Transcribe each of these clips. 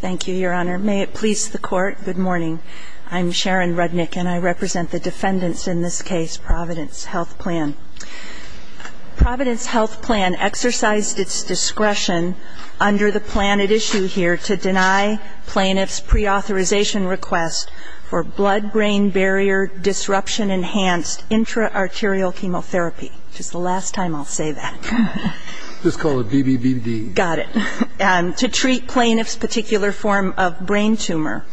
Thank you, Your Honor. May it please the Court, good morning. I'm Sharon Rudnick, and I represent the defendants in this case, Providence Health Plan. Providence Health Plan exercised its discretion under the plan at issue here to deny plaintiffs' preauthorization request for blood-brain-barrier-disruption-enhanced intra-arterial chemotherapy. Just the last particular form of brain tumor.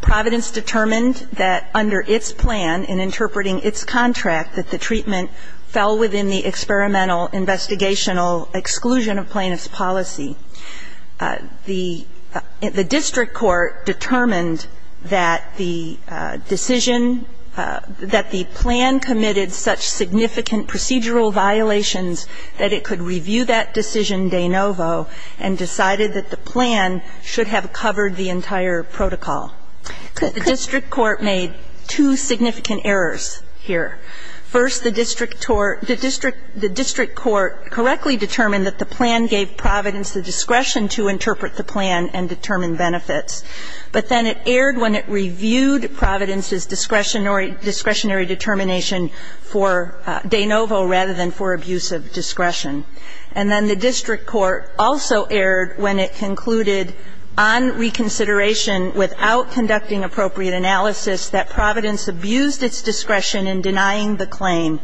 Providence determined that under its plan, in interpreting its contract, that the treatment fell within the experimental investigational exclusion of plaintiff's policy. The district court determined that the decision, that the plan committed such significant procedural violations that it could review that decision de novo and decided that the plan should have covered the entire protocol. The district court made two significant errors here. First, the district court correctly determined that the plan gave Providence the discretion to interpret the plan and determine benefits. But then it erred when it reviewed Providence's discretionary determination for de novo rather than for abusive discretion. And then the district court also erred when it concluded Providence on reconsideration without conducting appropriate analysis that Providence abused its discretion in denying the claim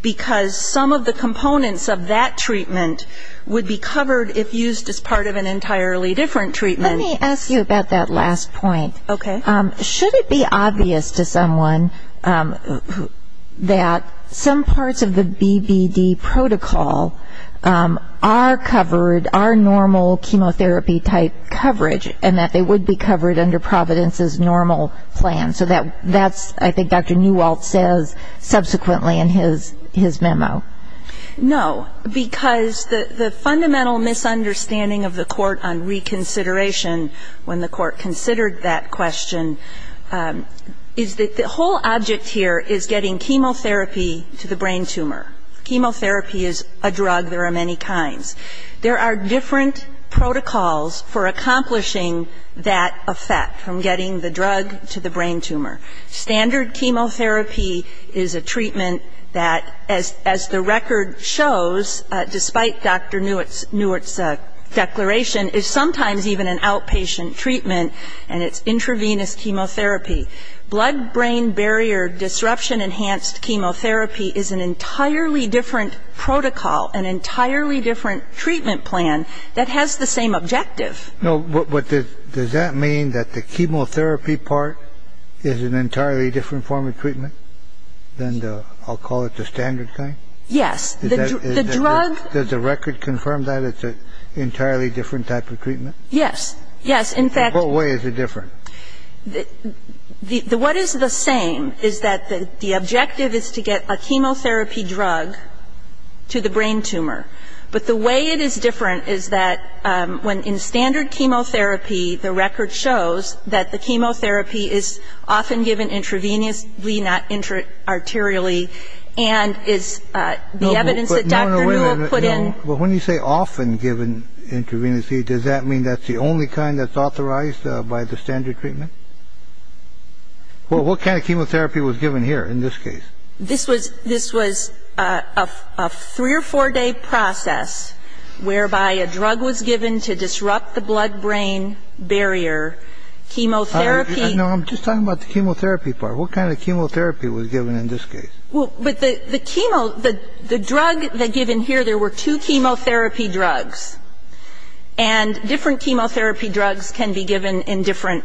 because some of the components of that treatment would be covered if used as part of an entirely different treatment. Let me ask you about that last point. Okay. Should it be obvious to someone that some parts of the BBD protocol are covered, are normal chemotherapy-type coverage, and that they would be covered under Providence's normal plan? So that's, I think, Dr. Newalt says subsequently in his memo. No. Because the fundamental misunderstanding of the court on reconsideration when the court considered that question is that the whole object here is getting chemotherapy to the brain tumor. Chemotherapy is a drug. There are many kinds. There are different protocols for accomplishing that effect, from getting the drug to the brain tumor. Standard chemotherapy is a treatment that, as the record shows, despite Dr. Newalt's declaration, is sometimes even an outpatient treatment, and it's intravenous chemotherapy. Blood-brain barrier disruption-enhanced chemotherapy is an entirely different protocol, an entirely different treatment plan that has the same objective. No. But does that mean that the chemotherapy part is an entirely different form of treatment than the, I'll call it the standard kind? Yes. The drug Does the record confirm that it's an entirely different type of treatment? Yes. Yes. In fact In what way is it different? The what is the same is that the objective is to get a chemotherapy drug to the brain tumor. But the way it is different is that when in standard chemotherapy, the record shows that the chemotherapy is often given intravenously, not arterially, and is the evidence that Dr. Newalt put in No. But when you say often given intravenously, does that mean that's the only kind that's considered treatment? Well, what kind of chemotherapy was given here in this case? This was This was a three- or four-day process whereby a drug was given to disrupt the blood-brain barrier. Chemotherapy No. I'm just talking about the chemotherapy part. What kind of chemotherapy was given in this case? Well, but the chemo The drug given here, there were two chemotherapy drugs, and different chemotherapy drugs can be given in different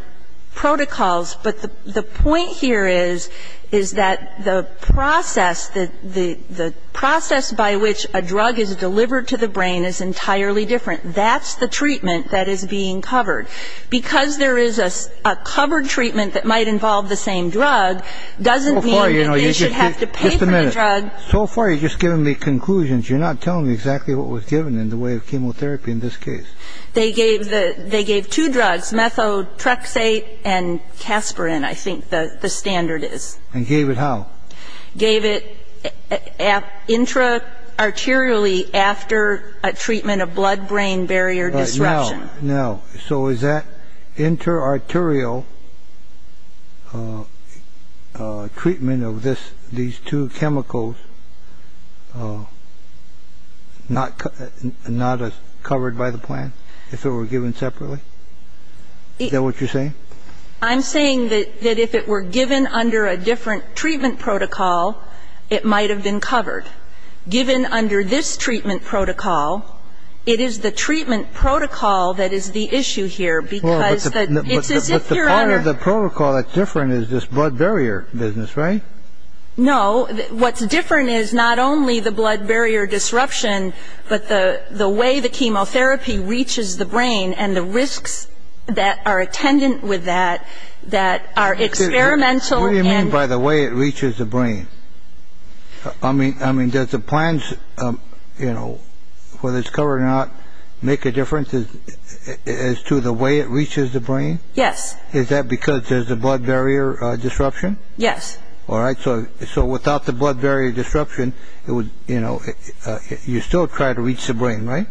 protocols. But the point here is, is that the process that the process by which a drug is delivered to the brain is entirely different. That's the treatment that is being covered. Because there is a covered treatment that might involve the same drug doesn't mean that they should have to pay for the drug So far you've just given me conclusions. You're not telling me exactly what was given in the way of chemotherapy in this case. They gave the They gave two drugs, methotrexate and casparin, I think the standard is. And gave it how? Gave it intra-arterially after a treatment of blood-brain barrier disruption. Now, so is that inter-arterial treatment of this, these two chemicals, not covered by the plan, if it were given separately? Is that what you're saying? I'm saying that if it were given under a different treatment protocol, it might have been covered. Given under this treatment protocol, it is the treatment protocol that is the issue here, because it's as if you're under But the part of the protocol that's different is this blood barrier business, right? No, what's different is not only the blood barrier disruption, but the way the chemotherapy reaches the brain and the risks that are attendant with that, that are experimental What do you mean by the way it reaches the brain? I mean, does the plans, you know, whether it's covered or not, make a difference as to the way it reaches the brain? Yes. Is that because there's a blood barrier disruption? Yes. All right, so without the blood barrier disruption, it would, you know, you still try to reach the brain, right?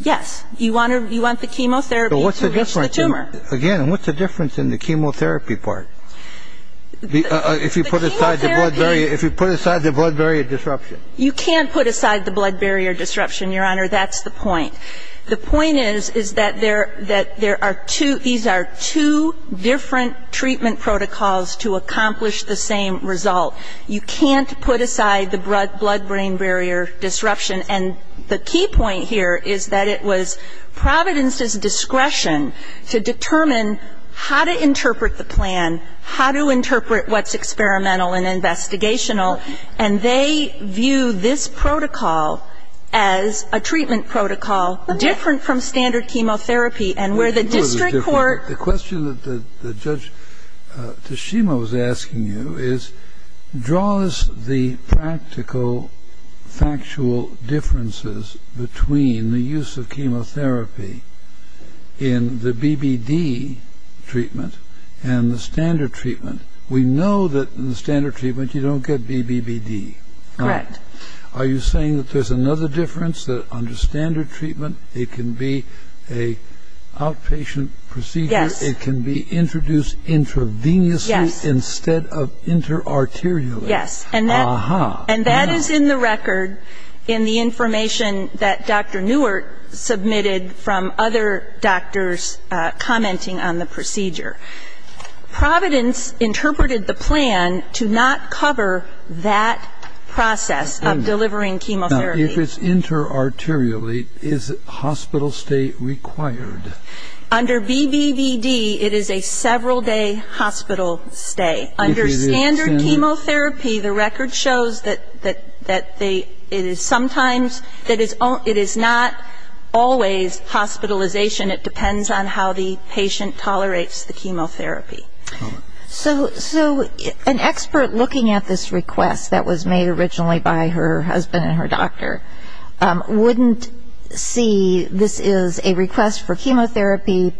Yes. You want the chemotherapy to reach the tumor. Again, what's the difference in the chemotherapy part? If you put aside the blood barrier disruption? You can't put aside the blood barrier disruption, Your Honor, that's the point. The point is that there are two, these are two different treatment protocols to accomplish the same result. You can't put aside the blood brain barrier disruption, and the key point here is that it was Providence's discretion to determine how to interpret the plan, how to interpret what's experimental and investigational, and they view this protocol as a treatment protocol different from standard chemotherapy, and where the district court The question that Judge Tashima was asking you is, draws the practical, factual differences between the use of chemotherapy in the BBD treatment and the standard treatment. We know that in the standard treatment, you don't get BBBD. Correct. Are you saying that there's another difference, that under standard treatment, it can be an outpatient procedure, it can be introduced intravenously instead of inter-arterially? Yes. And that is in the record, in the information that Dr. Neuert submitted from other doctors commenting on the procedure. Providence interpreted the plan to not cover that process. Now, if it's inter-arterially, is hospital stay required? Under BBBD, it is a several-day hospital stay. Under standard chemotherapy, the record shows that it is sometimes, it is not always hospitalization. It depends on how the patient tolerates the chemotherapy. So, an expert looking at this request that was made originally by her husband and her doctor wouldn't see this is a request for chemotherapy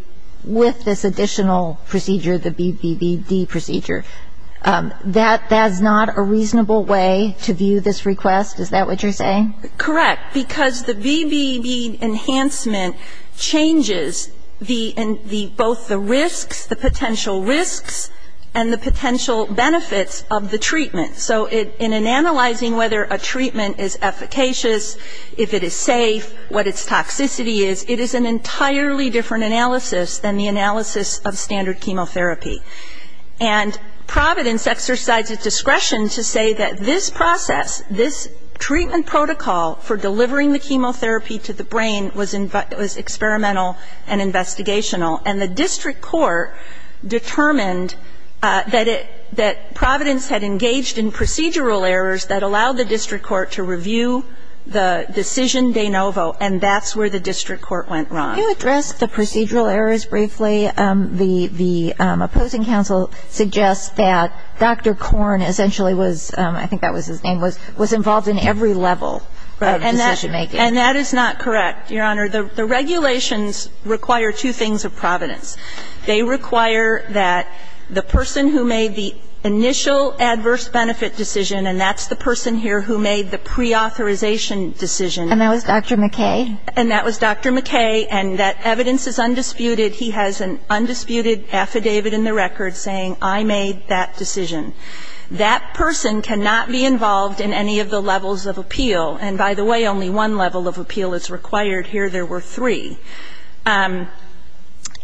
with this additional procedure, the BBBD procedure. That's not a reasonable way to view this request, is that what you're saying? Correct. Because the BBBD enhancement changes both the risks, the potential risks, and the potential benefits of the treatment. So in analyzing whether a treatment is efficacious, if it is safe, what its toxicity is, it is an entirely different analysis than the analysis of standard chemotherapy. And Providence exercises discretion to say that this process, this treatment protocol for delivering the chemotherapy to the brain was experimental and investigational. And the district court determined that it, that Providence had engaged in procedural errors that allowed the district court to review the decision de novo, and that's where the district court went wrong. Can you address the procedural errors briefly? The opposing counsel suggests that Dr. Korn essentially was, I think that was his name, was involved in every level of decision-making. And that is not correct, Your Honor. The regulations require two things of Providence. They require that the person who made the initial adverse benefit decision, and that's the person here who made the preauthorization decision. And that was Dr. McKay? And that was Dr. McKay. And that evidence is undisputed. He has an undisputed affidavit in the record saying, I made that decision. That person cannot be involved in any of the levels of appeal. And by the way, only one level of appeal is required. Here there were three. And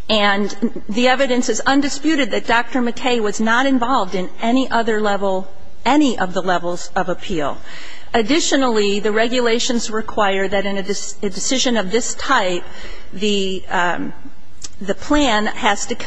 the evidence is undisputed that Dr. McKay was not involved in any other level, any of the levels of appeal. Additionally, the regulations require that in a decision of this type, the plan has to be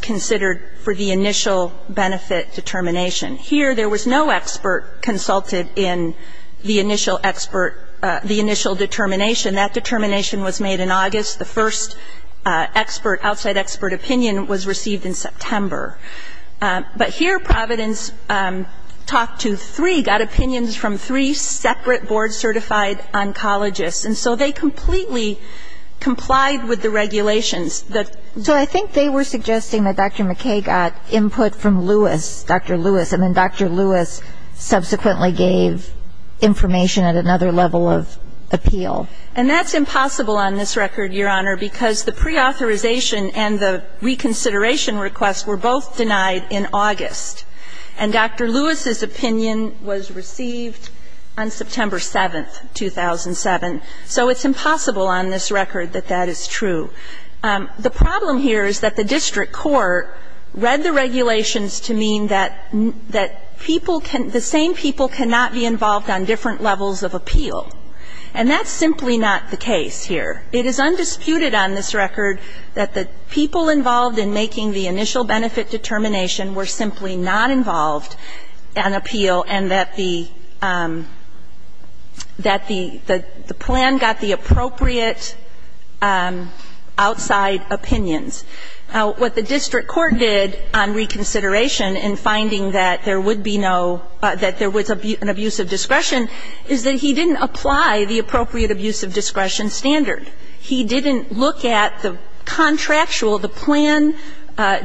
considered for the initial benefit determination. Here there was no expert consulted in the initial expert, the initial determination. That determination was made in August. The first expert, outside expert opinion was received in September. But here Providence talked to three, got opinions from three separate board-certified oncologists. And so they completely complied with the regulations. So I think they were suggesting that Dr. McKay got input from Lewis, Dr. Lewis, and then Dr. Lewis subsequently gave information at another level of appeal. And that's impossible on this record, Your Honor, because the preauthorization and the reconsideration request were both denied in August. And Dr. Lewis's opinion was received on September 7th, 2007. So it's impossible on this record that that is true. The problem here is that the district court read the regulations to mean that people can the same people cannot be involved on different levels of appeal. And that's simply not the case here. It is undisputed on this record that the people involved in making the initial benefit determination were simply not involved in appeal and that the that the plan got the appropriate level of appeal. Now, outside opinions. Now, what the district court did on reconsideration in finding that there would be no that there was an abuse of discretion is that he didn't apply the appropriate abuse of discretion standard. He didn't look at the contractual, the plan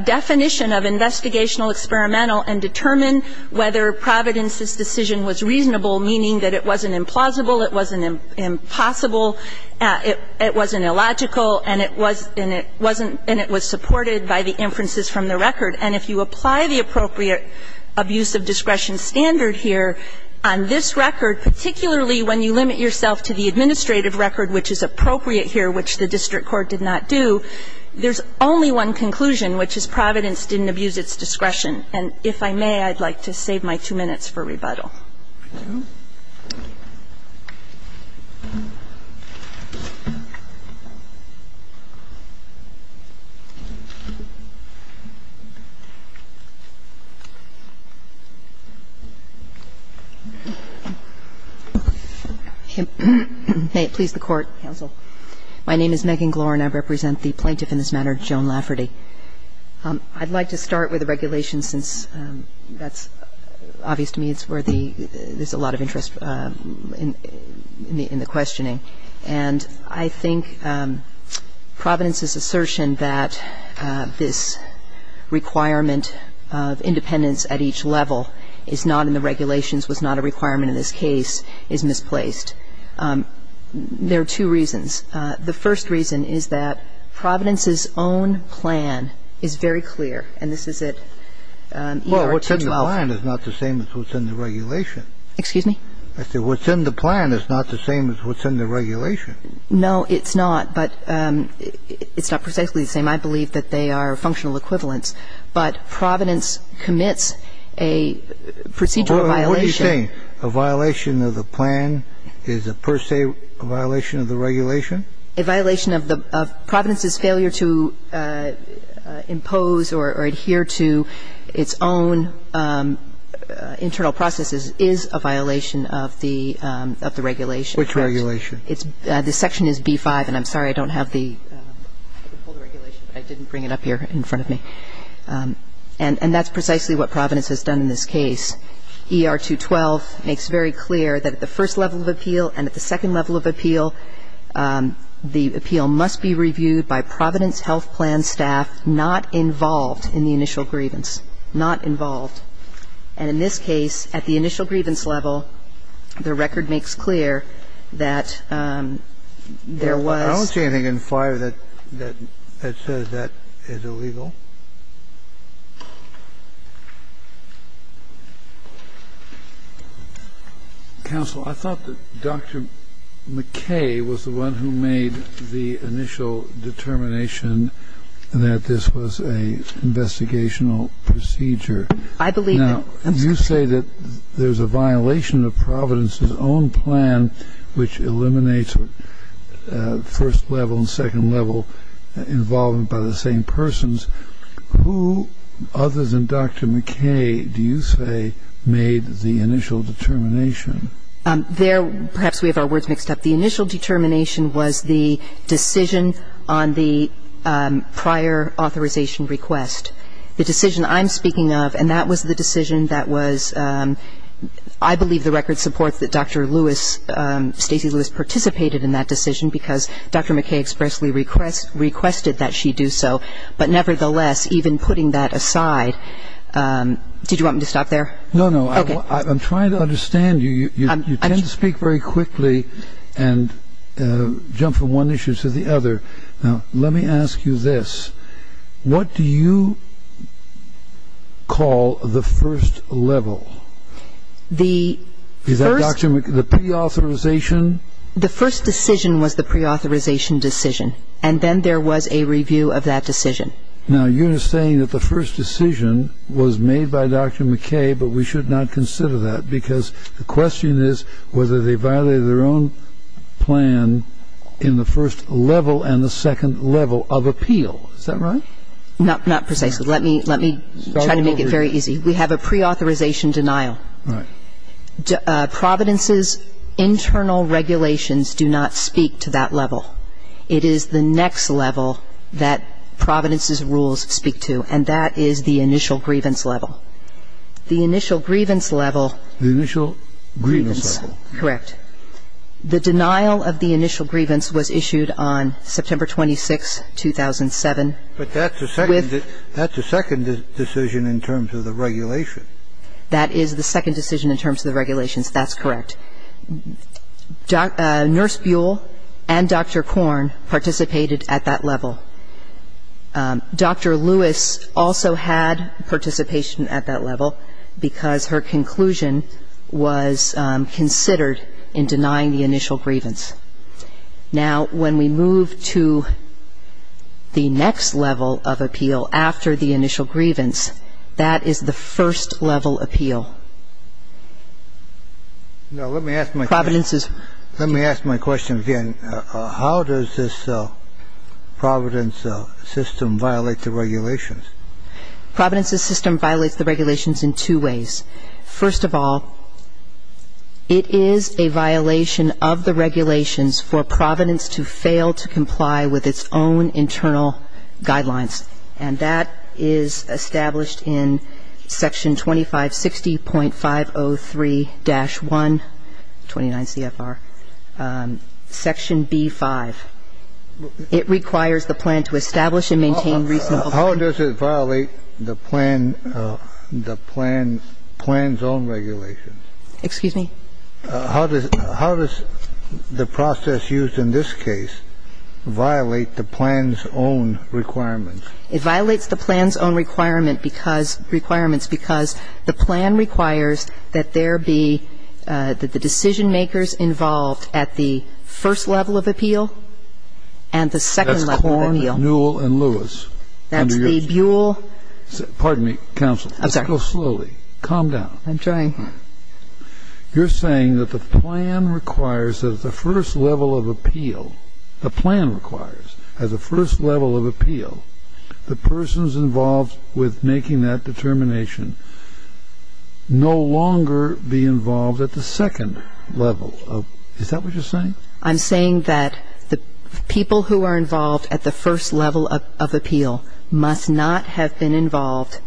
definition of investigational experimental and determine whether Providence's decision was reasonable, meaning that it wasn't implausible, it wasn't impossible, it wasn't illogical, and it wasn't and it was supported by the inferences from the record. And if you apply the appropriate abuse of discretion standard here on this record, particularly when you limit yourself to the administrative record, which is appropriate here, which the district court did not do, there's only one conclusion, which is Providence didn't abuse its discretion. And if I may, I'd like to save my two minutes for rebuttal. Thank you. May it please the Court, counsel. My name is Megan Glorin. I represent the plaintiff in this matter, Joan Lafferty. I'd like to start with the regulations since that's obvious to me. There's a lot of interest in the questioning. And I think Providence's assertion that this requirement of independence at each level is not in the regulations, was not a requirement in this case, is misplaced. There are two reasons. The first reason is that Providence's own plan is very clear, and this is at ER 212. The second reason is that Providence's own plan is very clear, and this is at ER 212. The third reason is that Providence's own plan is very clear, and this is at ER 212. What's in the plan is not the same as what's in the regulation. Excuse me? I said what's in the plan is not the same as what's in the regulation. No, it's not. But it's not precisely the same. I believe that they are functional equivalents. But Providence commits a procedural violation. So you're saying a violation of the plan is per se a violation of the regulation? A violation of the – Providence's failure to impose or adhere to its own internal processes is a violation of the regulation. Which regulation? The section is B-5, and I'm sorry, I don't have the – I can pull the regulation, but I didn't bring it up here in front of me. And that's precisely what Providence has done in this case. ER 212 makes very clear that at the first level of appeal and at the second level of appeal, the appeal must be reviewed by Providence health plan staff not involved in the initial grievance, not involved. And in this case, at the initial grievance level, the record makes clear that there was – Counsel, I thought that Dr. McKay was the one who made the initial determination that this was an investigational procedure. I believe that – Now, you say that there's a violation of Providence's own plan, which eliminates first level and second level involvement by the same persons. Who other than Dr. McKay, do you say, made the initial determination? There – perhaps we have our words mixed up. The initial determination was the decision on the prior authorization request. The decision I'm speaking of, and that was the decision that was – I believe the record supports that Dr. Lewis, Stacy Lewis, participated in that decision because Dr. McKay expressly requested that she do so. But nevertheless, even putting that aside – did you want me to stop there? No, no. Okay. I'm trying to understand you. You tend to speak very quickly and jump from one issue to the other. Now, let me ask you this. What do you call the first level? The first – Is that Dr. – the pre-authorization? The first decision was the pre-authorization decision. And then there was a review of that decision. Now, you're saying that the first decision was made by Dr. McKay, but we should not consider that because the question is whether they violated their own plan in the first level and the second level of appeal. Is that right? Not precisely. Let me try to make it very easy. We have a pre-authorization denial. Right. Providence's internal regulations do not speak to that level. It is the next level that Providence's rules speak to, and that is the initial grievance level. The initial grievance level – The initial grievance level. Correct. The denial of the initial grievance was issued on September 26, 2007. But that's a second – that's a second decision in terms of the regulation. That is the second decision in terms of the regulations. That's correct. Nurse Buell and Dr. Korn participated at that level. Dr. Lewis also had participation at that level because her conclusion was considered in denying the initial grievance. Now, when we move to the next level of appeal after the initial grievance, that is the first level appeal. Now, let me ask my question again. How does this Providence system violate the regulations? Providence's system violates the regulations in two ways. First of all, it is a violation of the regulations for Providence to fail to comply with its own internal guidelines. And that is established in Section 2560.503-1, 29 CFR, Section B-5. It requires the plan to establish and maintain reasonable – How does it violate the plan – the plan's own regulations? Excuse me? How does the process used in this case violate the plan's own requirements? It violates the plan's own requirement because – requirements because the plan requires that there be – that the decision-makers involved at the first level of appeal and the second level of appeal. That's Korn, Newell, and Lewis. That's the Buell – Pardon me, counsel. I'm sorry. Let's go slowly. Calm down. I'm trying. You're saying that the plan requires that at the first level of appeal, the plan requires at the first level of appeal, the persons involved with making that determination no longer be involved at the second level of – is that what you're saying? I'm saying that the people who are involved at the first level of appeal must not have been involved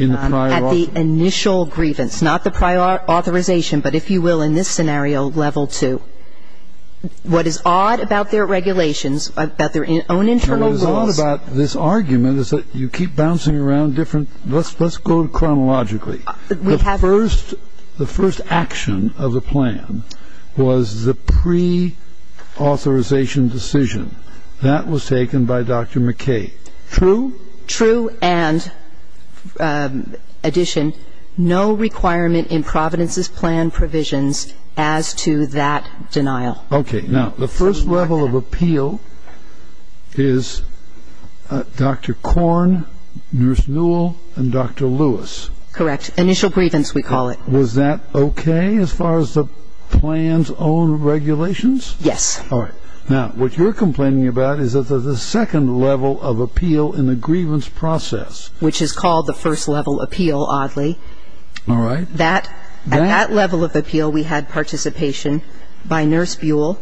at the initial grievance. Not the prior authorization, but if you will, in this scenario, level two. What is odd about their regulations, about their own internal rules – What is odd about this argument is that you keep bouncing around different – let's go chronologically. The first action of the plan was the pre-authorization decision. That was taken by Dr. McKay. True? True, and addition, no requirement in Providence's plan provisions as to that denial. Okay. Now, the first level of appeal is Dr. Korn, Nurse Newell, and Dr. Lewis. Correct. Initial grievance, we call it. Was that okay as far as the plan's own regulations? Yes. All right. Now, what you're complaining about is that there's a second level of appeal in the grievance process. Which is called the first level appeal, oddly. All right. At that level of appeal, we had participation by Nurse Buell,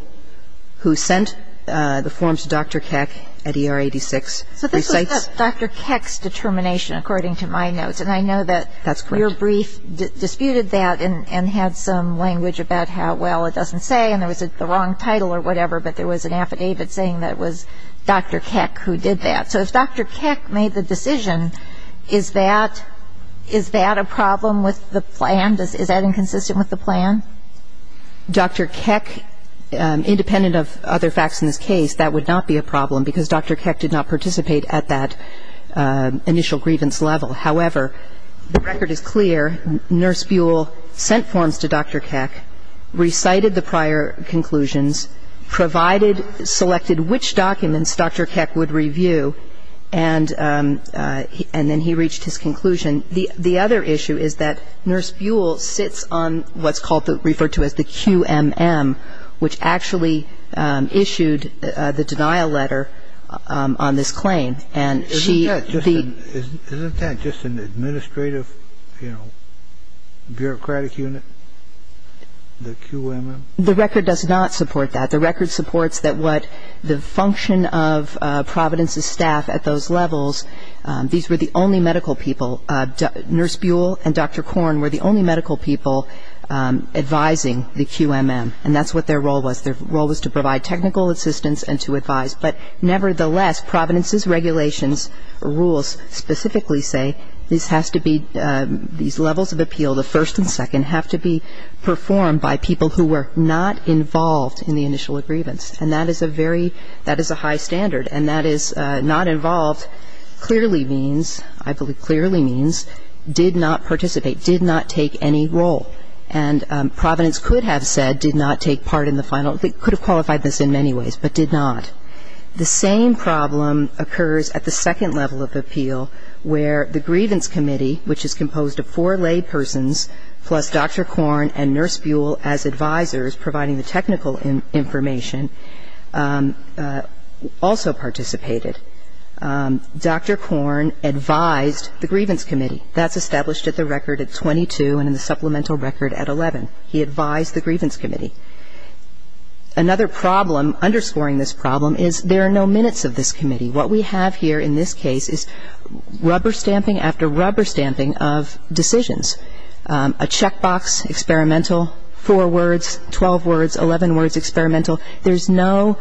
who sent the form to Dr. Keck at ER 86. So this was Dr. Keck's determination, according to my notes. And I know that your brief disputed that and had some language about how, well, it doesn't say, and there was the wrong title or whatever, but there was an affidavit saying that it was Dr. Keck who did that. So if Dr. Keck made the decision, is that a problem with the plan? Is that inconsistent with the plan? Dr. Keck, independent of other facts in this case, that would not be a problem, because Dr. Keck did not participate at that initial grievance level. However, the record is clear. Nurse Buell sent forms to Dr. Keck, recited the prior conclusions, provided, selected which documents Dr. Keck would review, and then he reached his conclusion. The other issue is that Nurse Buell sits on what's referred to as the QMM, which actually issued the denial letter on this claim. Isn't that just an administrative, you know, bureaucratic unit, the QMM? The record does not support that. The record supports that the function of Providence's staff at those levels, these were the only medical people. Nurse Buell and Dr. Korn were the only medical people advising the QMM, and that's what their role was. Their role was to provide technical assistance and to advise. But nevertheless, Providence's regulations rules specifically say this has to be these levels of appeal, the first and second, have to be performed by people who were not involved in the initial grievance. And that is a very, that is a high standard. And that is not involved clearly means, I believe clearly means did not participate, did not take any role. And Providence could have said did not take part in the final, could have qualified this in many ways, but did not. The same problem occurs at the second level of appeal where the grievance committee, which is composed of four laypersons plus Dr. Korn and Nurse Buell as advisors providing the technical information, also participated. Dr. Korn advised the grievance committee. That's established at the record at 22 and in the supplemental record at 11. He advised the grievance committee. Another problem, underscoring this problem, is there are no minutes of this committee. What we have here in this case is rubber stamping after rubber stamping of decisions. A check box, experimental, four words, 12 words, 11 words, experimental. There's no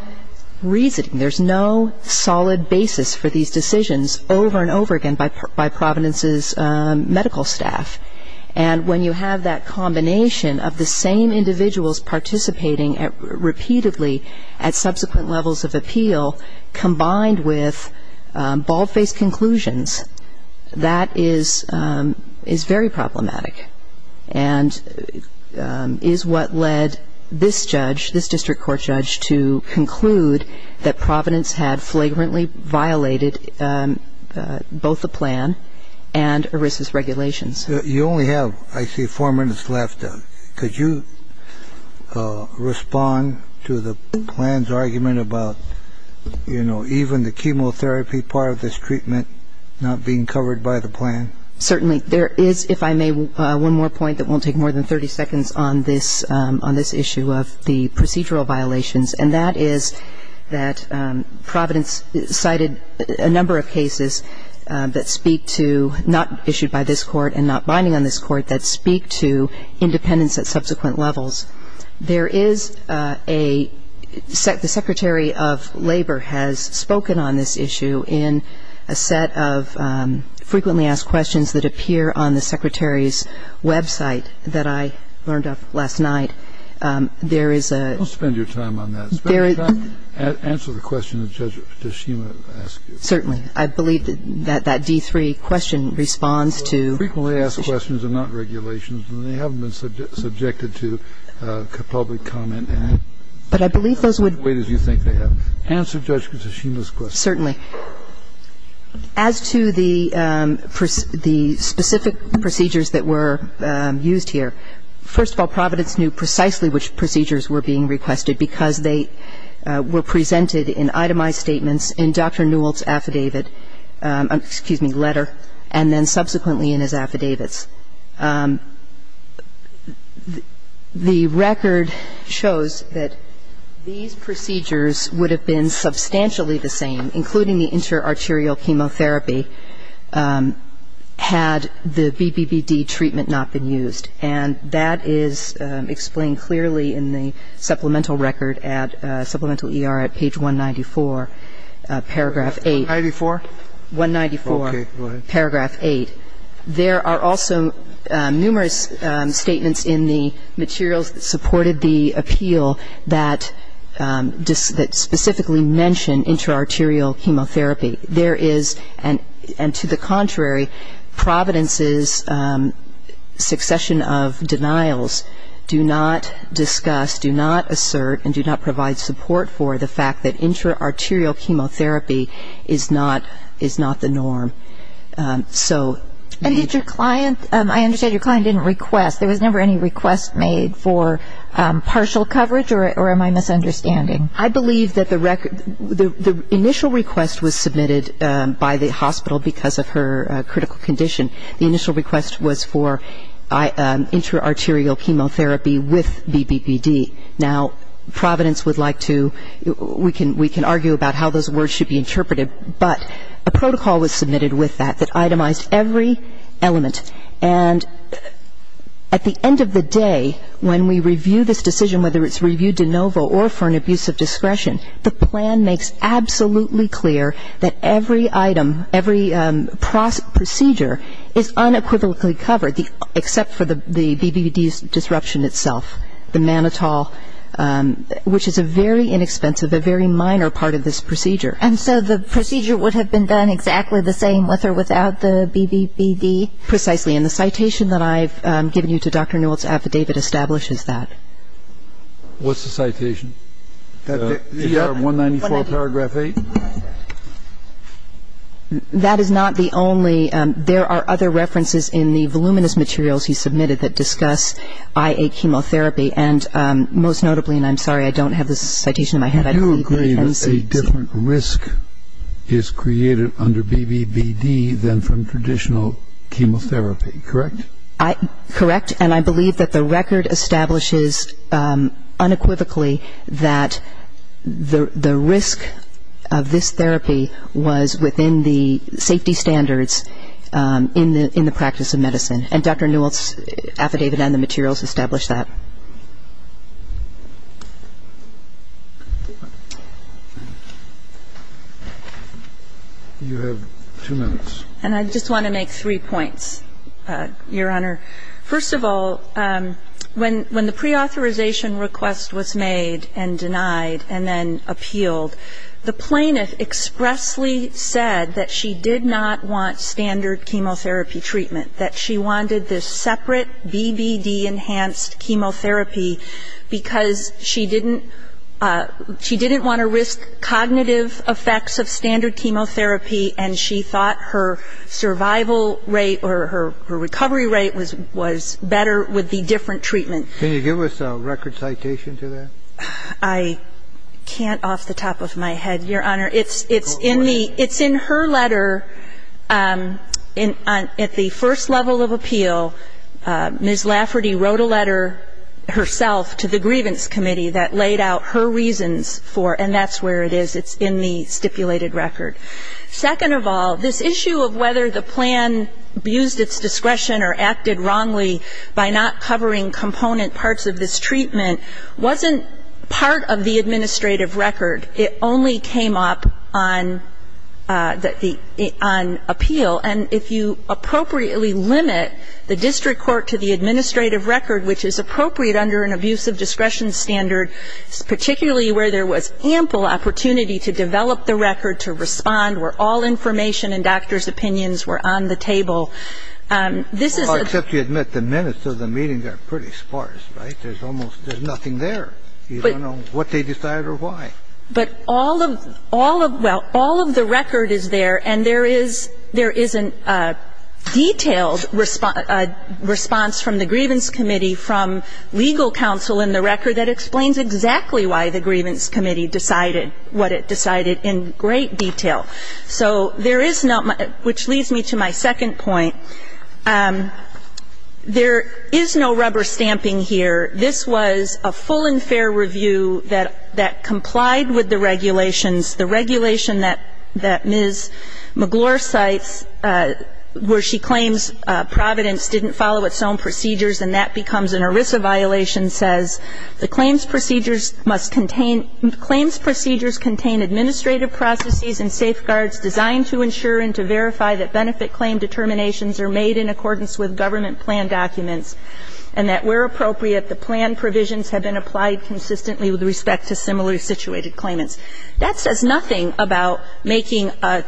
reasoning. There's no solid basis for these decisions over and over again by Providence's medical staff. And when you have that combination of the same individuals participating repeatedly at subsequent levels of appeal combined with bald-faced conclusions, that is very problematic and is what led this judge, this district court judge, to conclude that Providence had flagrantly violated both the plan and ERISA's regulations. You only have, I see, four minutes left. Could you respond to the plan's argument about, you know, even the chemotherapy part of this treatment not being covered by the plan? Certainly. There is, if I may, one more point that won't take more than 30 seconds on this issue of the procedural violations, and that is that Providence cited a number of cases that speak to not issued by this court and not binding on this court that speak to independence at subsequent levels. There is a ‑‑ the Secretary of Labor has spoken on this issue in a set of frequently asked questions that appear on the Secretary's website that I learned of last night. There is a ‑‑ Don't spend your time on that. Spend your time, answer the question that Judge Toshima asked you. Certainly. I believe that that D3 question responds to ‑‑ Frequently asked questions are not regulations, and they haven't been subjected to public comment in the way that you think they have. Answer Judge Toshima's question. Certainly. As to the specific procedures that were used here, first of all, Providence knew precisely which procedures were being requested because they were presented in itemized statements in Dr. Newell's affidavit ‑‑ excuse me, letter, and then subsequently in his affidavits. The record shows that these procedures would have been substantially the same, including the interarterial chemotherapy, had the BBBD treatment not been used, and that is explained clearly in the supplemental record at supplemental ER at page 194, paragraph 8. 194? Okay. Go ahead. Paragraph 8. There are also numerous statements in the materials that supported the appeal that specifically mention interarterial chemotherapy. There is, and to the contrary, Providence's succession of denials do not discuss, do not assert, and do not provide support for the fact that interarterial chemotherapy is not the norm. So ‑‑ And did your client ‑‑ I understand your client didn't request. There was never any request made for partial coverage, or am I misunderstanding? I believe that the initial request was submitted by the hospital because of her critical condition. The initial request was for interarterial chemotherapy with BBBD. Now, Providence would like to ‑‑ we can argue about how those words should be interpreted, but a protocol was submitted with that that itemized every element. And at the end of the day, when we review this decision, whether it's reviewed de novo or for an abuse of discretion, the plan makes absolutely clear that every item, every procedure is unequivocally covered, except for the BBBD disruption itself, the mannitol, which is a very inexpensive, a very minor part of this procedure. And so the procedure would have been done exactly the same with or without the BBBD? Precisely. And the citation that I've given you to Dr. Newell's affidavit establishes that. What's the citation? The 194 paragraph 8? That is not the only ‑‑ there are other references in the voluminous materials he submitted that discuss IA chemotherapy, and most notably, and I'm sorry, I don't have this citation in my head. You agree that a different risk is created under BBBD than from traditional chemotherapy, correct? Correct. And I believe that the record establishes unequivocally that the risk of this therapy was within the safety standards in the practice of medicine, and Dr. Newell's affidavit and the materials establish that. You have two minutes. And I just want to make three points, Your Honor. First of all, when the preauthorization request was made and denied and then appealed, the plaintiff expressly said that she did not want standard chemotherapy treatment, that she wanted this separate BBD enhanced chemotherapy because she didn't ‑‑ she didn't want to risk cognitive effects of standard chemotherapy, and she thought her survival rate or her recovery rate was better with the different treatment. Can you give us a record citation to that? I can't off the top of my head, Your Honor. It's in the ‑‑ it's in her letter at the first level of appeal. Ms. Lafferty wrote a letter herself to the grievance committee that laid out her reasons for it, and that's where it is. It's in the stipulated record. Second of all, this issue of whether the plan abused its discretion or acted wrongly by not covering component parts of this treatment wasn't part of the administrative record. It only came up on appeal. And if you appropriately limit the district court to the administrative record, which is appropriate under an abuse of discretion standard, particularly where there was ample opportunity to develop the record, to respond where all information and doctor's opinions were on the table, this is ‑‑ Well, except you admit the minutes of the meeting are pretty sparse, right? There's almost ‑‑ there's nothing there. You don't know what they decided or why. But all of ‑‑ well, all of the record is there, and there is a detailed response from the grievance committee from legal counsel in the record that explains exactly why the grievance committee decided what it decided in great detail. So there is not much ‑‑ which leads me to my second point. There is no rubber stamping here. This was a full and fair review that complied with the regulations. The regulation that Ms. McClure cites where she claims Providence didn't follow its own procedures and that becomes an ERISA violation says the claims procedures must contain ‑‑ claims procedures contain administrative processes and safeguards designed to ensure and to verify that benefit claim determinations are made in accordance with government plan documents and that where appropriate, the plan provisions have been applied consistently with respect to similarly situated claimants. That says nothing about making an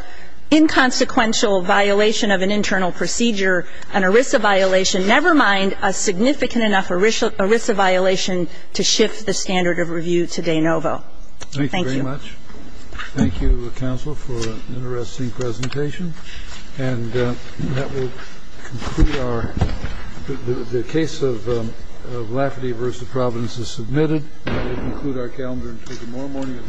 inconsequential violation of an internal procedure an ERISA violation, never mind a significant enough ERISA violation to shift the standard of review to de novo. Thank you. Thank you very much. Thank you, counsel, for an interesting presentation. And that will conclude our ‑‑ the case of Lafferty v. Providence is submitted. That will conclude our calendar and take more morning at 9 o'clock.